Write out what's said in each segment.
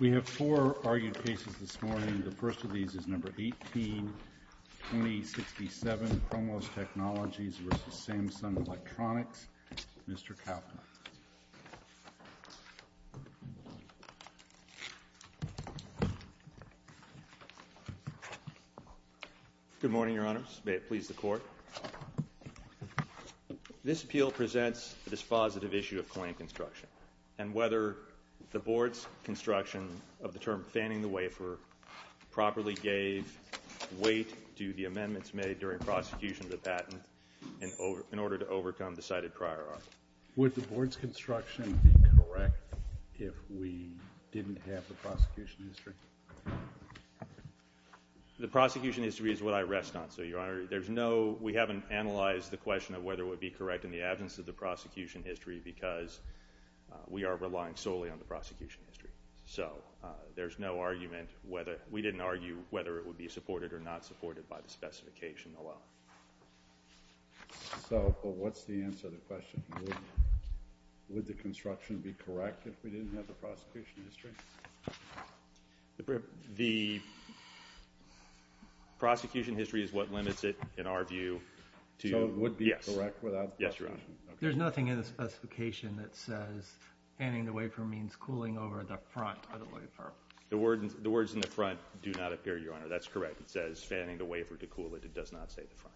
We have four argued cases this morning. The first of these is number 18-2067, ProMOS Technologies v. Samsung Electronics. Mr. Kaplan. Good morning, Your Honors. May it please the Court. This appeal presents the dispositive issue of claim construction and whether the Board's construction of the term fanning the wafer properly gave weight to the amendments made during prosecution of the patent in order to overcome the cited prior argument. Would the Board's construction be correct if we didn't have the prosecution history? The prosecution history is what I rest on, so, Your Honor, there's no, we haven't analyzed the question of whether it would be correct in the absence of the prosecution history because we are relying solely on the prosecution history. So, there's no argument whether, we didn't argue whether it would be supported or not supported by the specification alone. So, but what's the answer to the question? Would the construction be correct if we didn't have the prosecution history? The prosecution history is what limits it, in our view. So, it would be correct without the prosecution? Yes, Your Honor. There's nothing in the specification that says fanning the wafer means cooling over the front of the wafer. The words in the front do not appear, Your Honor. That's correct. It says fanning the wafer to cool it. It does not say the front.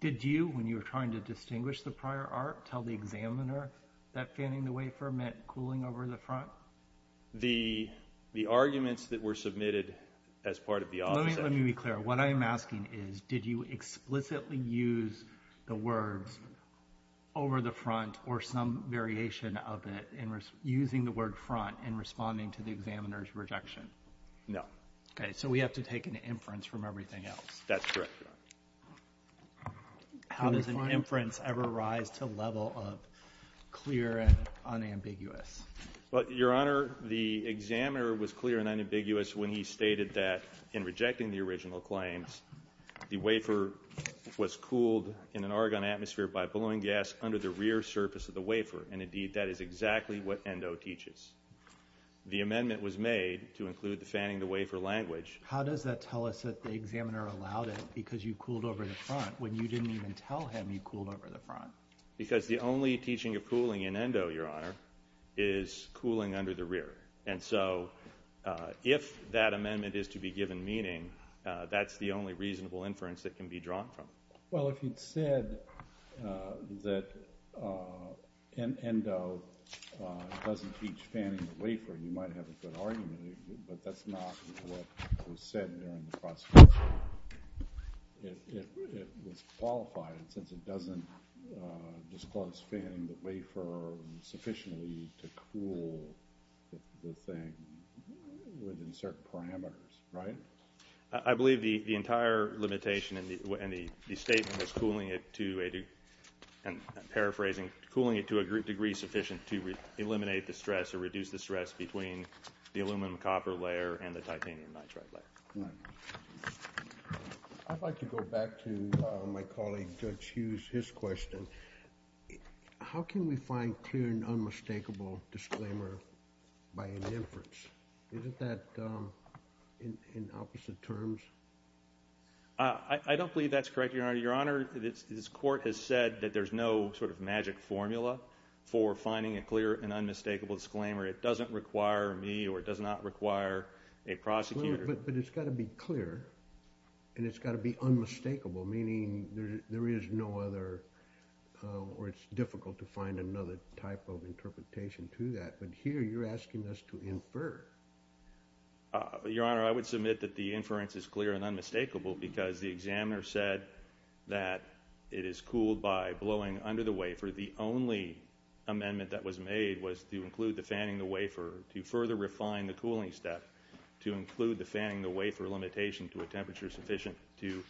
Did you, when you were trying to distinguish the prior art, tell the examiner that fanning the wafer meant cooling over the front? The, the arguments that were submitted as part of the opposite. Let me be clear. What I am asking is, did you explicitly use the words over the front or some variation of it in, using the word front in responding to the examiner's rejection? No. Okay. So, we have to take an inference from everything else. That's correct, Your Honor. How does an inference ever rise to a level of clear and unambiguous? Your Honor, the examiner was clear and unambiguous when he stated that in rejecting the original claims, the wafer was cooled in an argon atmosphere by blowing gas under the rear surface of the wafer, and indeed that is exactly what Endo teaches. The amendment was made to include the fanning the wafer language. How does that tell us that the examiner allowed it because you cooled over the front when you didn't even tell him you cooled over the front? Because the only teaching of cooling in Endo, Your Honor, is cooling under the rear. And so, if that amendment is to be given meaning, that's the only reasonable inference that can be drawn from it. Well, if you'd said that Endo doesn't teach fanning the wafer, you might have a good argument, but that's not what was said during the prosecution. It was qualified since it doesn't disclose fanning the wafer sufficiently to cool the thing within certain parameters, right? I believe the entire limitation in the statement is cooling it to a degree sufficient to eliminate the stress or reduce the stress between the aluminum-copper layer and the titanium-nitride layer. I'd like to go back to my colleague Judge Hughes, his question. How can we find clear and unmistakable disclaimer by an inference? Isn't that in opposite terms? I don't believe that's correct, Your Honor. Your Honor, this Court has said that there's no sort of magic formula for finding a clear and unmistakable disclaimer. It doesn't require me or it does not require a prosecutor. But it's got to be clear, and it's got to be unmistakable, meaning there is no other or it's difficult to find another type of interpretation to that. But here you're asking us to infer. Your Honor, I would submit that the inference is clear and unmistakable because the examiner said that it is cooled by blowing under the wafer. The only amendment that was made was to include the fanning the wafer, to further refine the cooling step, to include the fanning the wafer limitation to a temperature sufficient to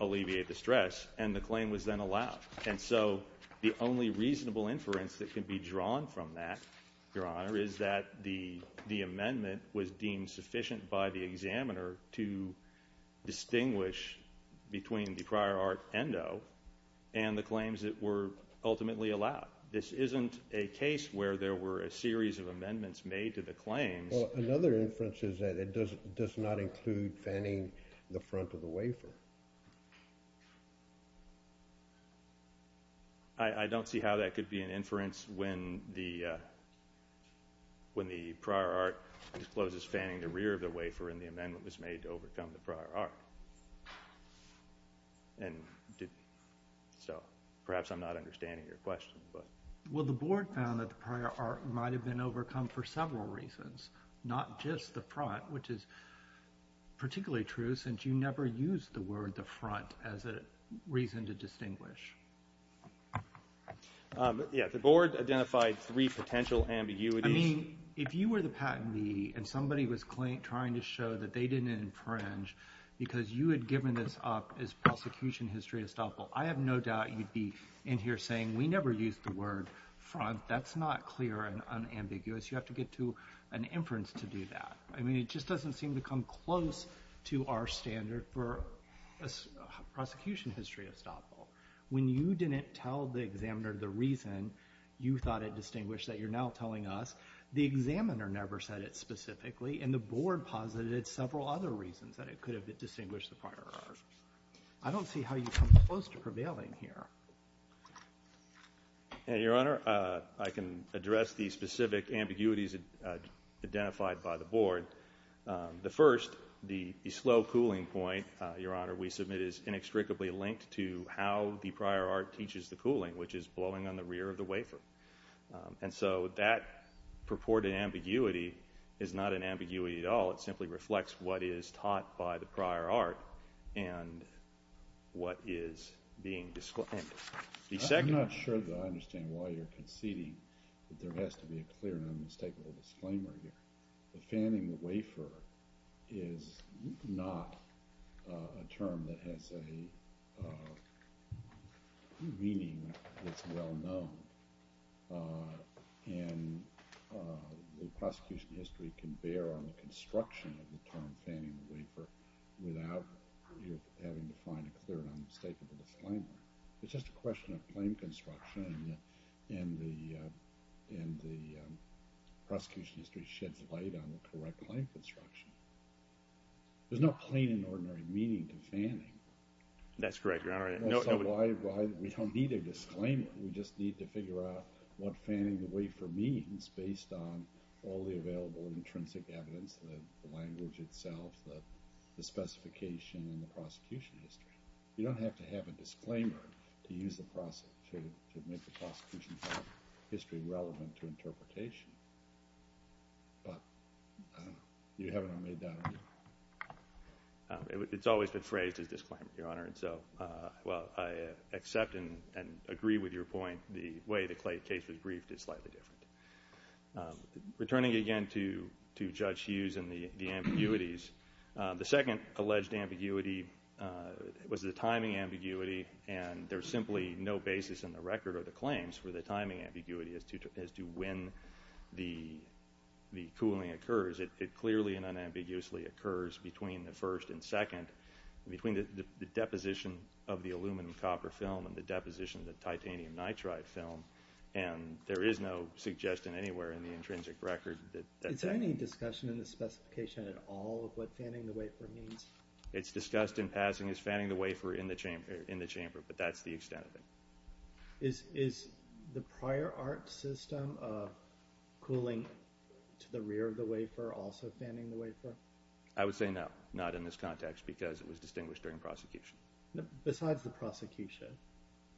alleviate the stress, and the claim was then allowed. And so the only reasonable inference that can be drawn from that, Your Honor, is that the amendment was deemed sufficient by the examiner to distinguish between the prior art endo and the claims that were ultimately allowed. This isn't a case where there were a series of amendments made to the claims. Well, another inference is that it does not include fanning the front of the wafer. I don't see how that could be an inference when the prior art discloses fanning the rear of the wafer and the amendment was made to overcome the prior art. And so perhaps I'm not understanding your question. Well, the Board found that the prior art might have been overcome for several reasons, not just the front, which is particularly true since you never used the word the front as a reason to distinguish. Yeah, the Board identified three potential ambiguities. I mean, if you were the patentee and somebody was trying to show that they didn't infringe because you had given this up as prosecution history estoppel, I have no doubt you'd be in here saying, we never used the word front. That's not clear and unambiguous. You have to get to an inference to do that. I mean, it just doesn't seem to come close to our standard for prosecution history estoppel. When you didn't tell the examiner the reason you thought it distinguished that you're now telling us, the examiner never said it specifically and the Board posited several other reasons that it could have distinguished the prior art. I don't see how you come close to prevailing here. Your Honor, I can address the specific ambiguities identified by the Board. The first, the slow cooling point, Your Honor, we submit is inextricably linked to how the prior art teaches the cooling, which is blowing on the rear of the wafer. And so that purported ambiguity is not an ambiguity at all. It simply reflects what is taught by the prior art and what is being disclaimed. I'm not sure that I understand why you're conceding that there has to be a clear and unmistakable disclaimer here. The fanning the wafer is not a term that has a meaning that's well known. And the prosecution history can bear on the construction of the term fanning the wafer without having to find a clear and unmistakable disclaimer. It's just a question of claim construction and the prosecution history sheds light on the correct claim construction. There's no plain and ordinary meaning to fanning. That's correct, Your Honor. We don't need a disclaimer. We just need to figure out what fanning the wafer means based on all the available intrinsic evidence, the language itself, the specification, and the prosecution history. You don't have to have a disclaimer to make the prosecution history relevant to interpretation. But you haven't already done it. Well, I accept and agree with your point. The way the Clay case was briefed is slightly different. Returning again to Judge Hughes and the ambiguities, the second alleged ambiguity was the timing ambiguity, and there's simply no basis in the record or the claims for the timing ambiguity as to when the cooling occurs. It clearly and unambiguously occurs between the first and second, between the deposition of the aluminum copper film and the deposition of the titanium nitride film, and there is no suggestion anywhere in the intrinsic record that that's happening. Is there any discussion in the specification at all of what fanning the wafer means? It's discussed in passing as fanning the wafer in the chamber, but that's the extent of it. Is the prior art system of cooling to the rear of the wafer also fanning the wafer? I would say no, not in this context, because it was distinguished during prosecution. Besides the prosecution?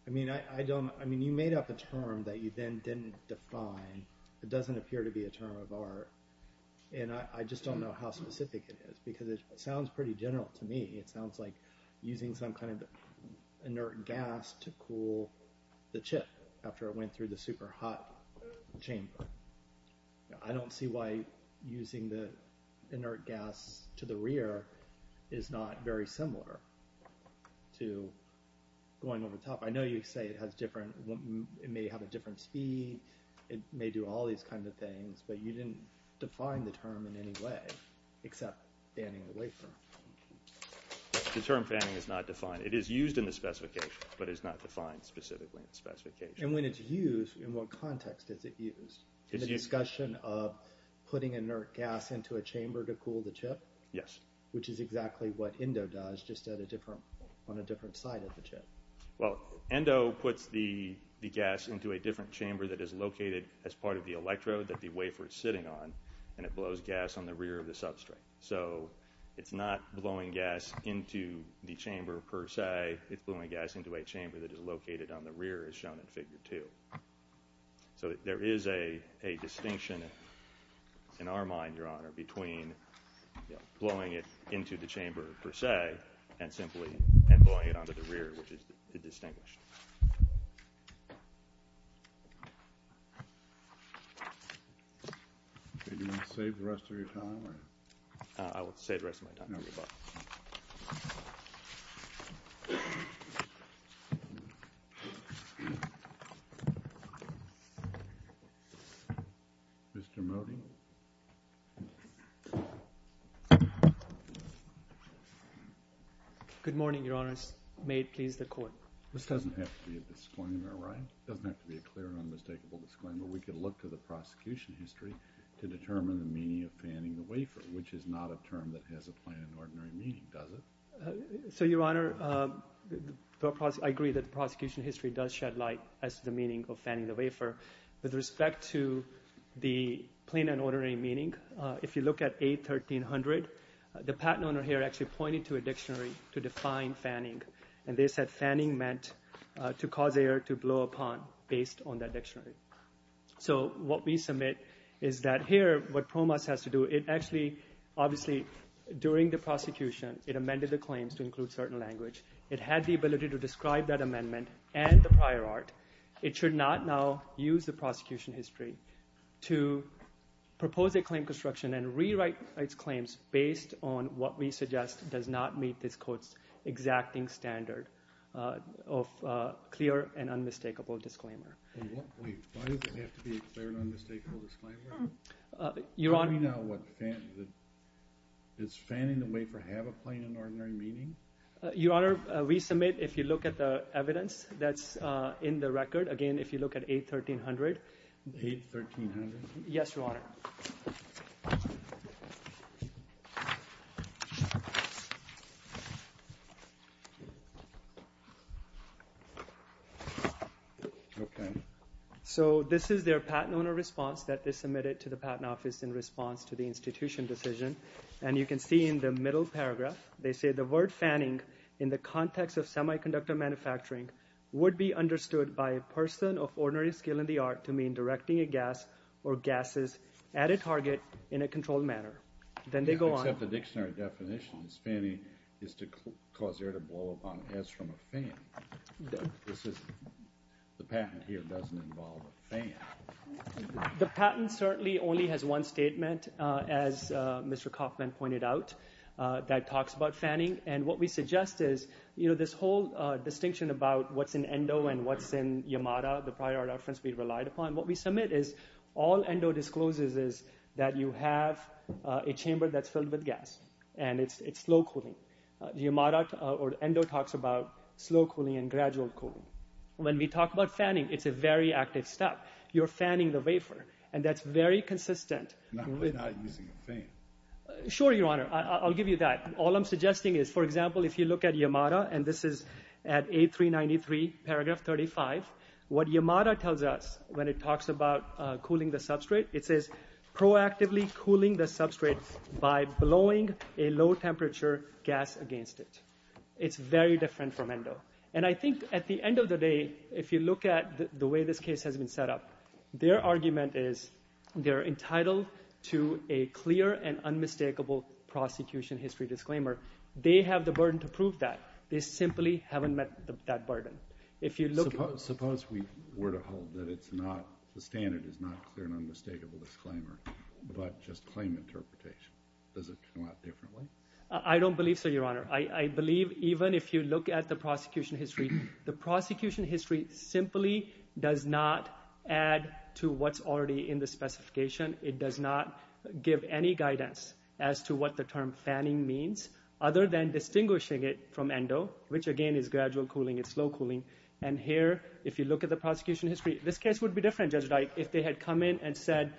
I mean, you made up a term that you then didn't define. It doesn't appear to be a term of art, and I just don't know how specific it is, because it sounds pretty general to me. It sounds like using some kind of inert gas to cool the chip after it went through the super hot chamber. I don't see why using the inert gas to the rear is not very similar to going over the top. I know you say it may have a different speed, it may do all these kinds of things, but you didn't define the term in any way except fanning the wafer. The term fanning is not defined. It is used in the specification, but it is not defined specifically in the specification. And when it's used, in what context is it used? In the discussion of putting inert gas into a chamber to cool the chip? Yes. Which is exactly what ENDO does, just on a different side of the chip. Well, ENDO puts the gas into a different chamber that is located as part of the electrode that the wafer is sitting on, and it blows gas on the rear of the substrate. So it's not blowing gas into the chamber per se, it's blowing gas into a chamber that is located on the rear as shown in figure two. So there is a distinction in our mind, Your Honor, between blowing it into the chamber per se and simply blowing it onto the rear, which is distinguished. Do you want to save the rest of your time? I will save the rest of my time. Mr. Moti. Good morning, Your Honor. May it please the Court. This doesn't have to be a disclaimer, right? It doesn't have to be a clear and unmistakable disclaimer. We could look to the prosecution history to determine the meaning of fanning the wafer, which is not a term that has a plain and ordinary meaning, does it? So, Your Honor, I agree that the prosecution history does shed light as to the meaning of fanning the wafer. With respect to the plain and ordinary meaning, if you look at A1300, the patent owner here actually pointed to a dictionary to define fanning, and they said fanning meant to cause air to blow upon based on that dictionary. So what we submit is that here what PROMAS has to do, it actually, obviously, during the prosecution, it amended the claims to include certain language. It had the ability to describe that amendment and the prior art. It should not now use the prosecution history to propose a claim construction and rewrite its claims based on what we suggest does not meet this Court's exacting standard of clear and unmistakable disclaimer. Wait, why does it have to be a clear and unmistakable disclaimer? Your Honor. Tell me now what fan is. Is fanning the wafer have a plain and ordinary meaning? Your Honor, we submit, if you look at the evidence that's in the record, again, if you look at A1300. A1300? Yes, Your Honor. So this is their patent owner response that they submitted to the Patent Office in response to the institution decision, and you can see in the middle paragraph they say the word fanning in the context of semiconductor manufacturing would be understood by a person of ordinary skill in the art to mean directing a gas or gases at a target in a controlled manner. Then they go on. You don't accept the dictionary definitions. Fanning is to cause air to blow up on heads from a fan. The patent here doesn't involve a fan. The patent certainly only has one statement, as Mr. Kaufman pointed out, that talks about fanning, and what we suggest is this whole distinction about what's in endo and what's in Yamada, the prior reference we relied upon. What we submit is all endo discloses is that you have a chamber that's filled with gas, and it's slow cooling. Yamada or endo talks about slow cooling and gradual cooling. When we talk about fanning, it's a very active step. You're fanning the wafer, and that's very consistent. Not using a fan. Sure, Your Honor. I'll give you that. All I'm suggesting is, for example, if you look at Yamada, and this is at A393, paragraph 35, what Yamada tells us when it talks about cooling the substrate, it says proactively cooling the substrate by blowing a low-temperature gas against it. It's very different from endo. And I think at the end of the day, if you look at the way this case has been set up, their argument is they're entitled to a clear and unmistakable prosecution history disclaimer. They have the burden to prove that. They simply haven't met that burden. Suppose we were to hold that the standard is not clear and unmistakable disclaimer, but just claim interpretation. Does it come out differently? I don't believe so, Your Honor. I believe even if you look at the prosecution history, the prosecution history simply does not add to what's already in the specification. It does not give any guidance as to what the term fanning means, other than distinguishing it from endo, which, again, is gradual cooling. It's low cooling. And here, if you look at the prosecution history, this case would be different, Judge Dyke, if they had come in and said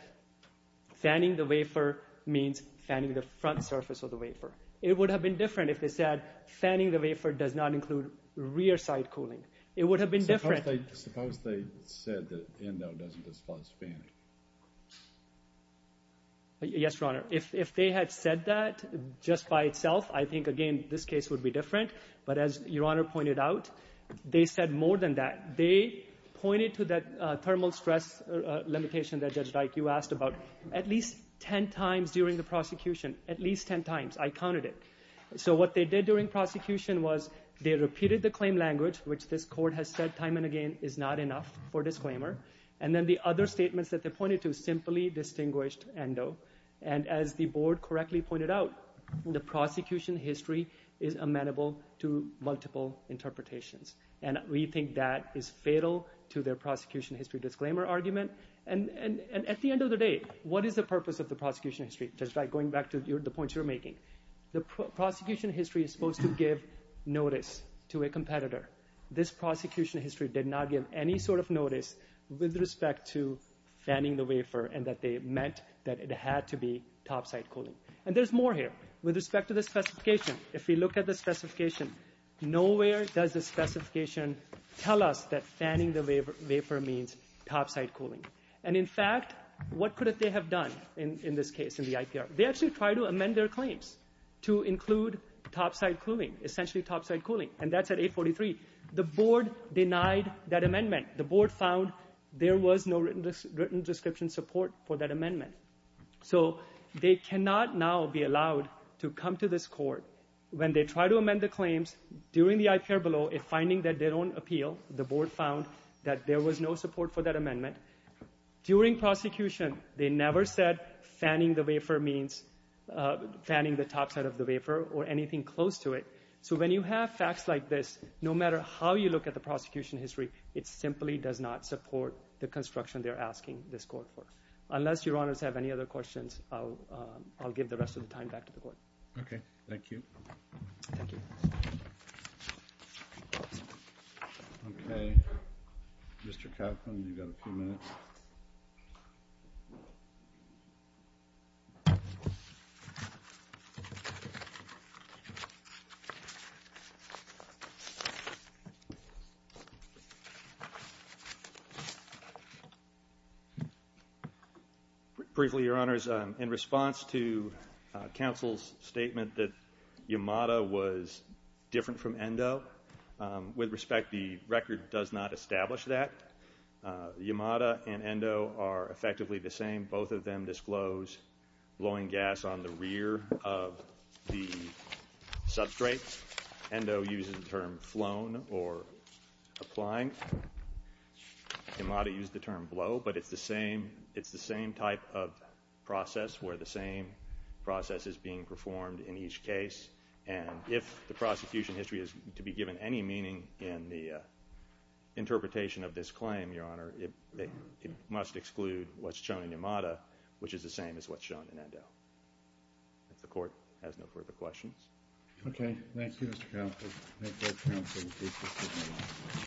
fanning the wafer means fanning the front surface of the wafer. It would have been different if they said fanning the wafer does not include rear side cooling. It would have been different. Suppose they said that endo doesn't disclose fanning. Yes, Your Honor. If they had said that just by itself, I think, again, this case would be different. But as Your Honor pointed out, they said more than that. They pointed to that thermal stress limitation that, Judge Dyke, you asked about at least ten times during the prosecution, at least ten times. I counted it. So what they did during prosecution was they repeated the claim language, which this Court has said time and again is not enough for disclaimer. And then the other statements that they pointed to simply distinguished endo. And as the Board correctly pointed out, the prosecution history is amenable to multiple interpretations. And we think that is fatal to their prosecution history disclaimer argument. And at the end of the day, what is the purpose of the prosecution history, just by going back to the points you were making? The prosecution history is supposed to give notice to a competitor. This prosecution history did not give any sort of notice with respect to fanning the wafer and that they meant that it had to be topside cooling. And there's more here with respect to the specification. If we look at the specification, nowhere does the specification tell us that fanning the wafer means topside cooling. And in fact, what could they have done in this case, in the IPR? They actually tried to amend their claims to include topside cooling, essentially topside cooling. And that's at 843. The Board denied that amendment. The Board found there was no written description support for that amendment. So they cannot now be allowed to come to this Court when they try to amend the claims during the IPR below if finding that they don't appeal, the Board found that there was no support for that amendment. During prosecution, they never said fanning the wafer means fanning the topside of the wafer or anything close to it. So when you have facts like this, no matter how you look at the prosecution history, it simply does not support the construction they're asking this Court for. Unless Your Honors have any other questions, I'll give the rest of the time back to the Court. Okay. Thank you. Thank you. Okay. Mr. Coughlin, you've got a few minutes. Briefly, Your Honors, in response to counsel's statement that Yamada was different from Endo, with respect, the record does not establish that. Yamada and Endo are effectively the same. Both of them disclose blowing gas on the rear of the substrate. Endo uses the term flown or applying. Yamada used the term blow, but it's the same type of process where the same process is being performed in each case. And if the prosecution history is to be given any meaning in the interpretation of this claim, Your Honor, it must exclude what's shown in Yamada, which is the same as what's shown in Endo. If the Court has no further questions. Okay. Thank you, Mr. Counsel. Thank you. Thank you. Thank you.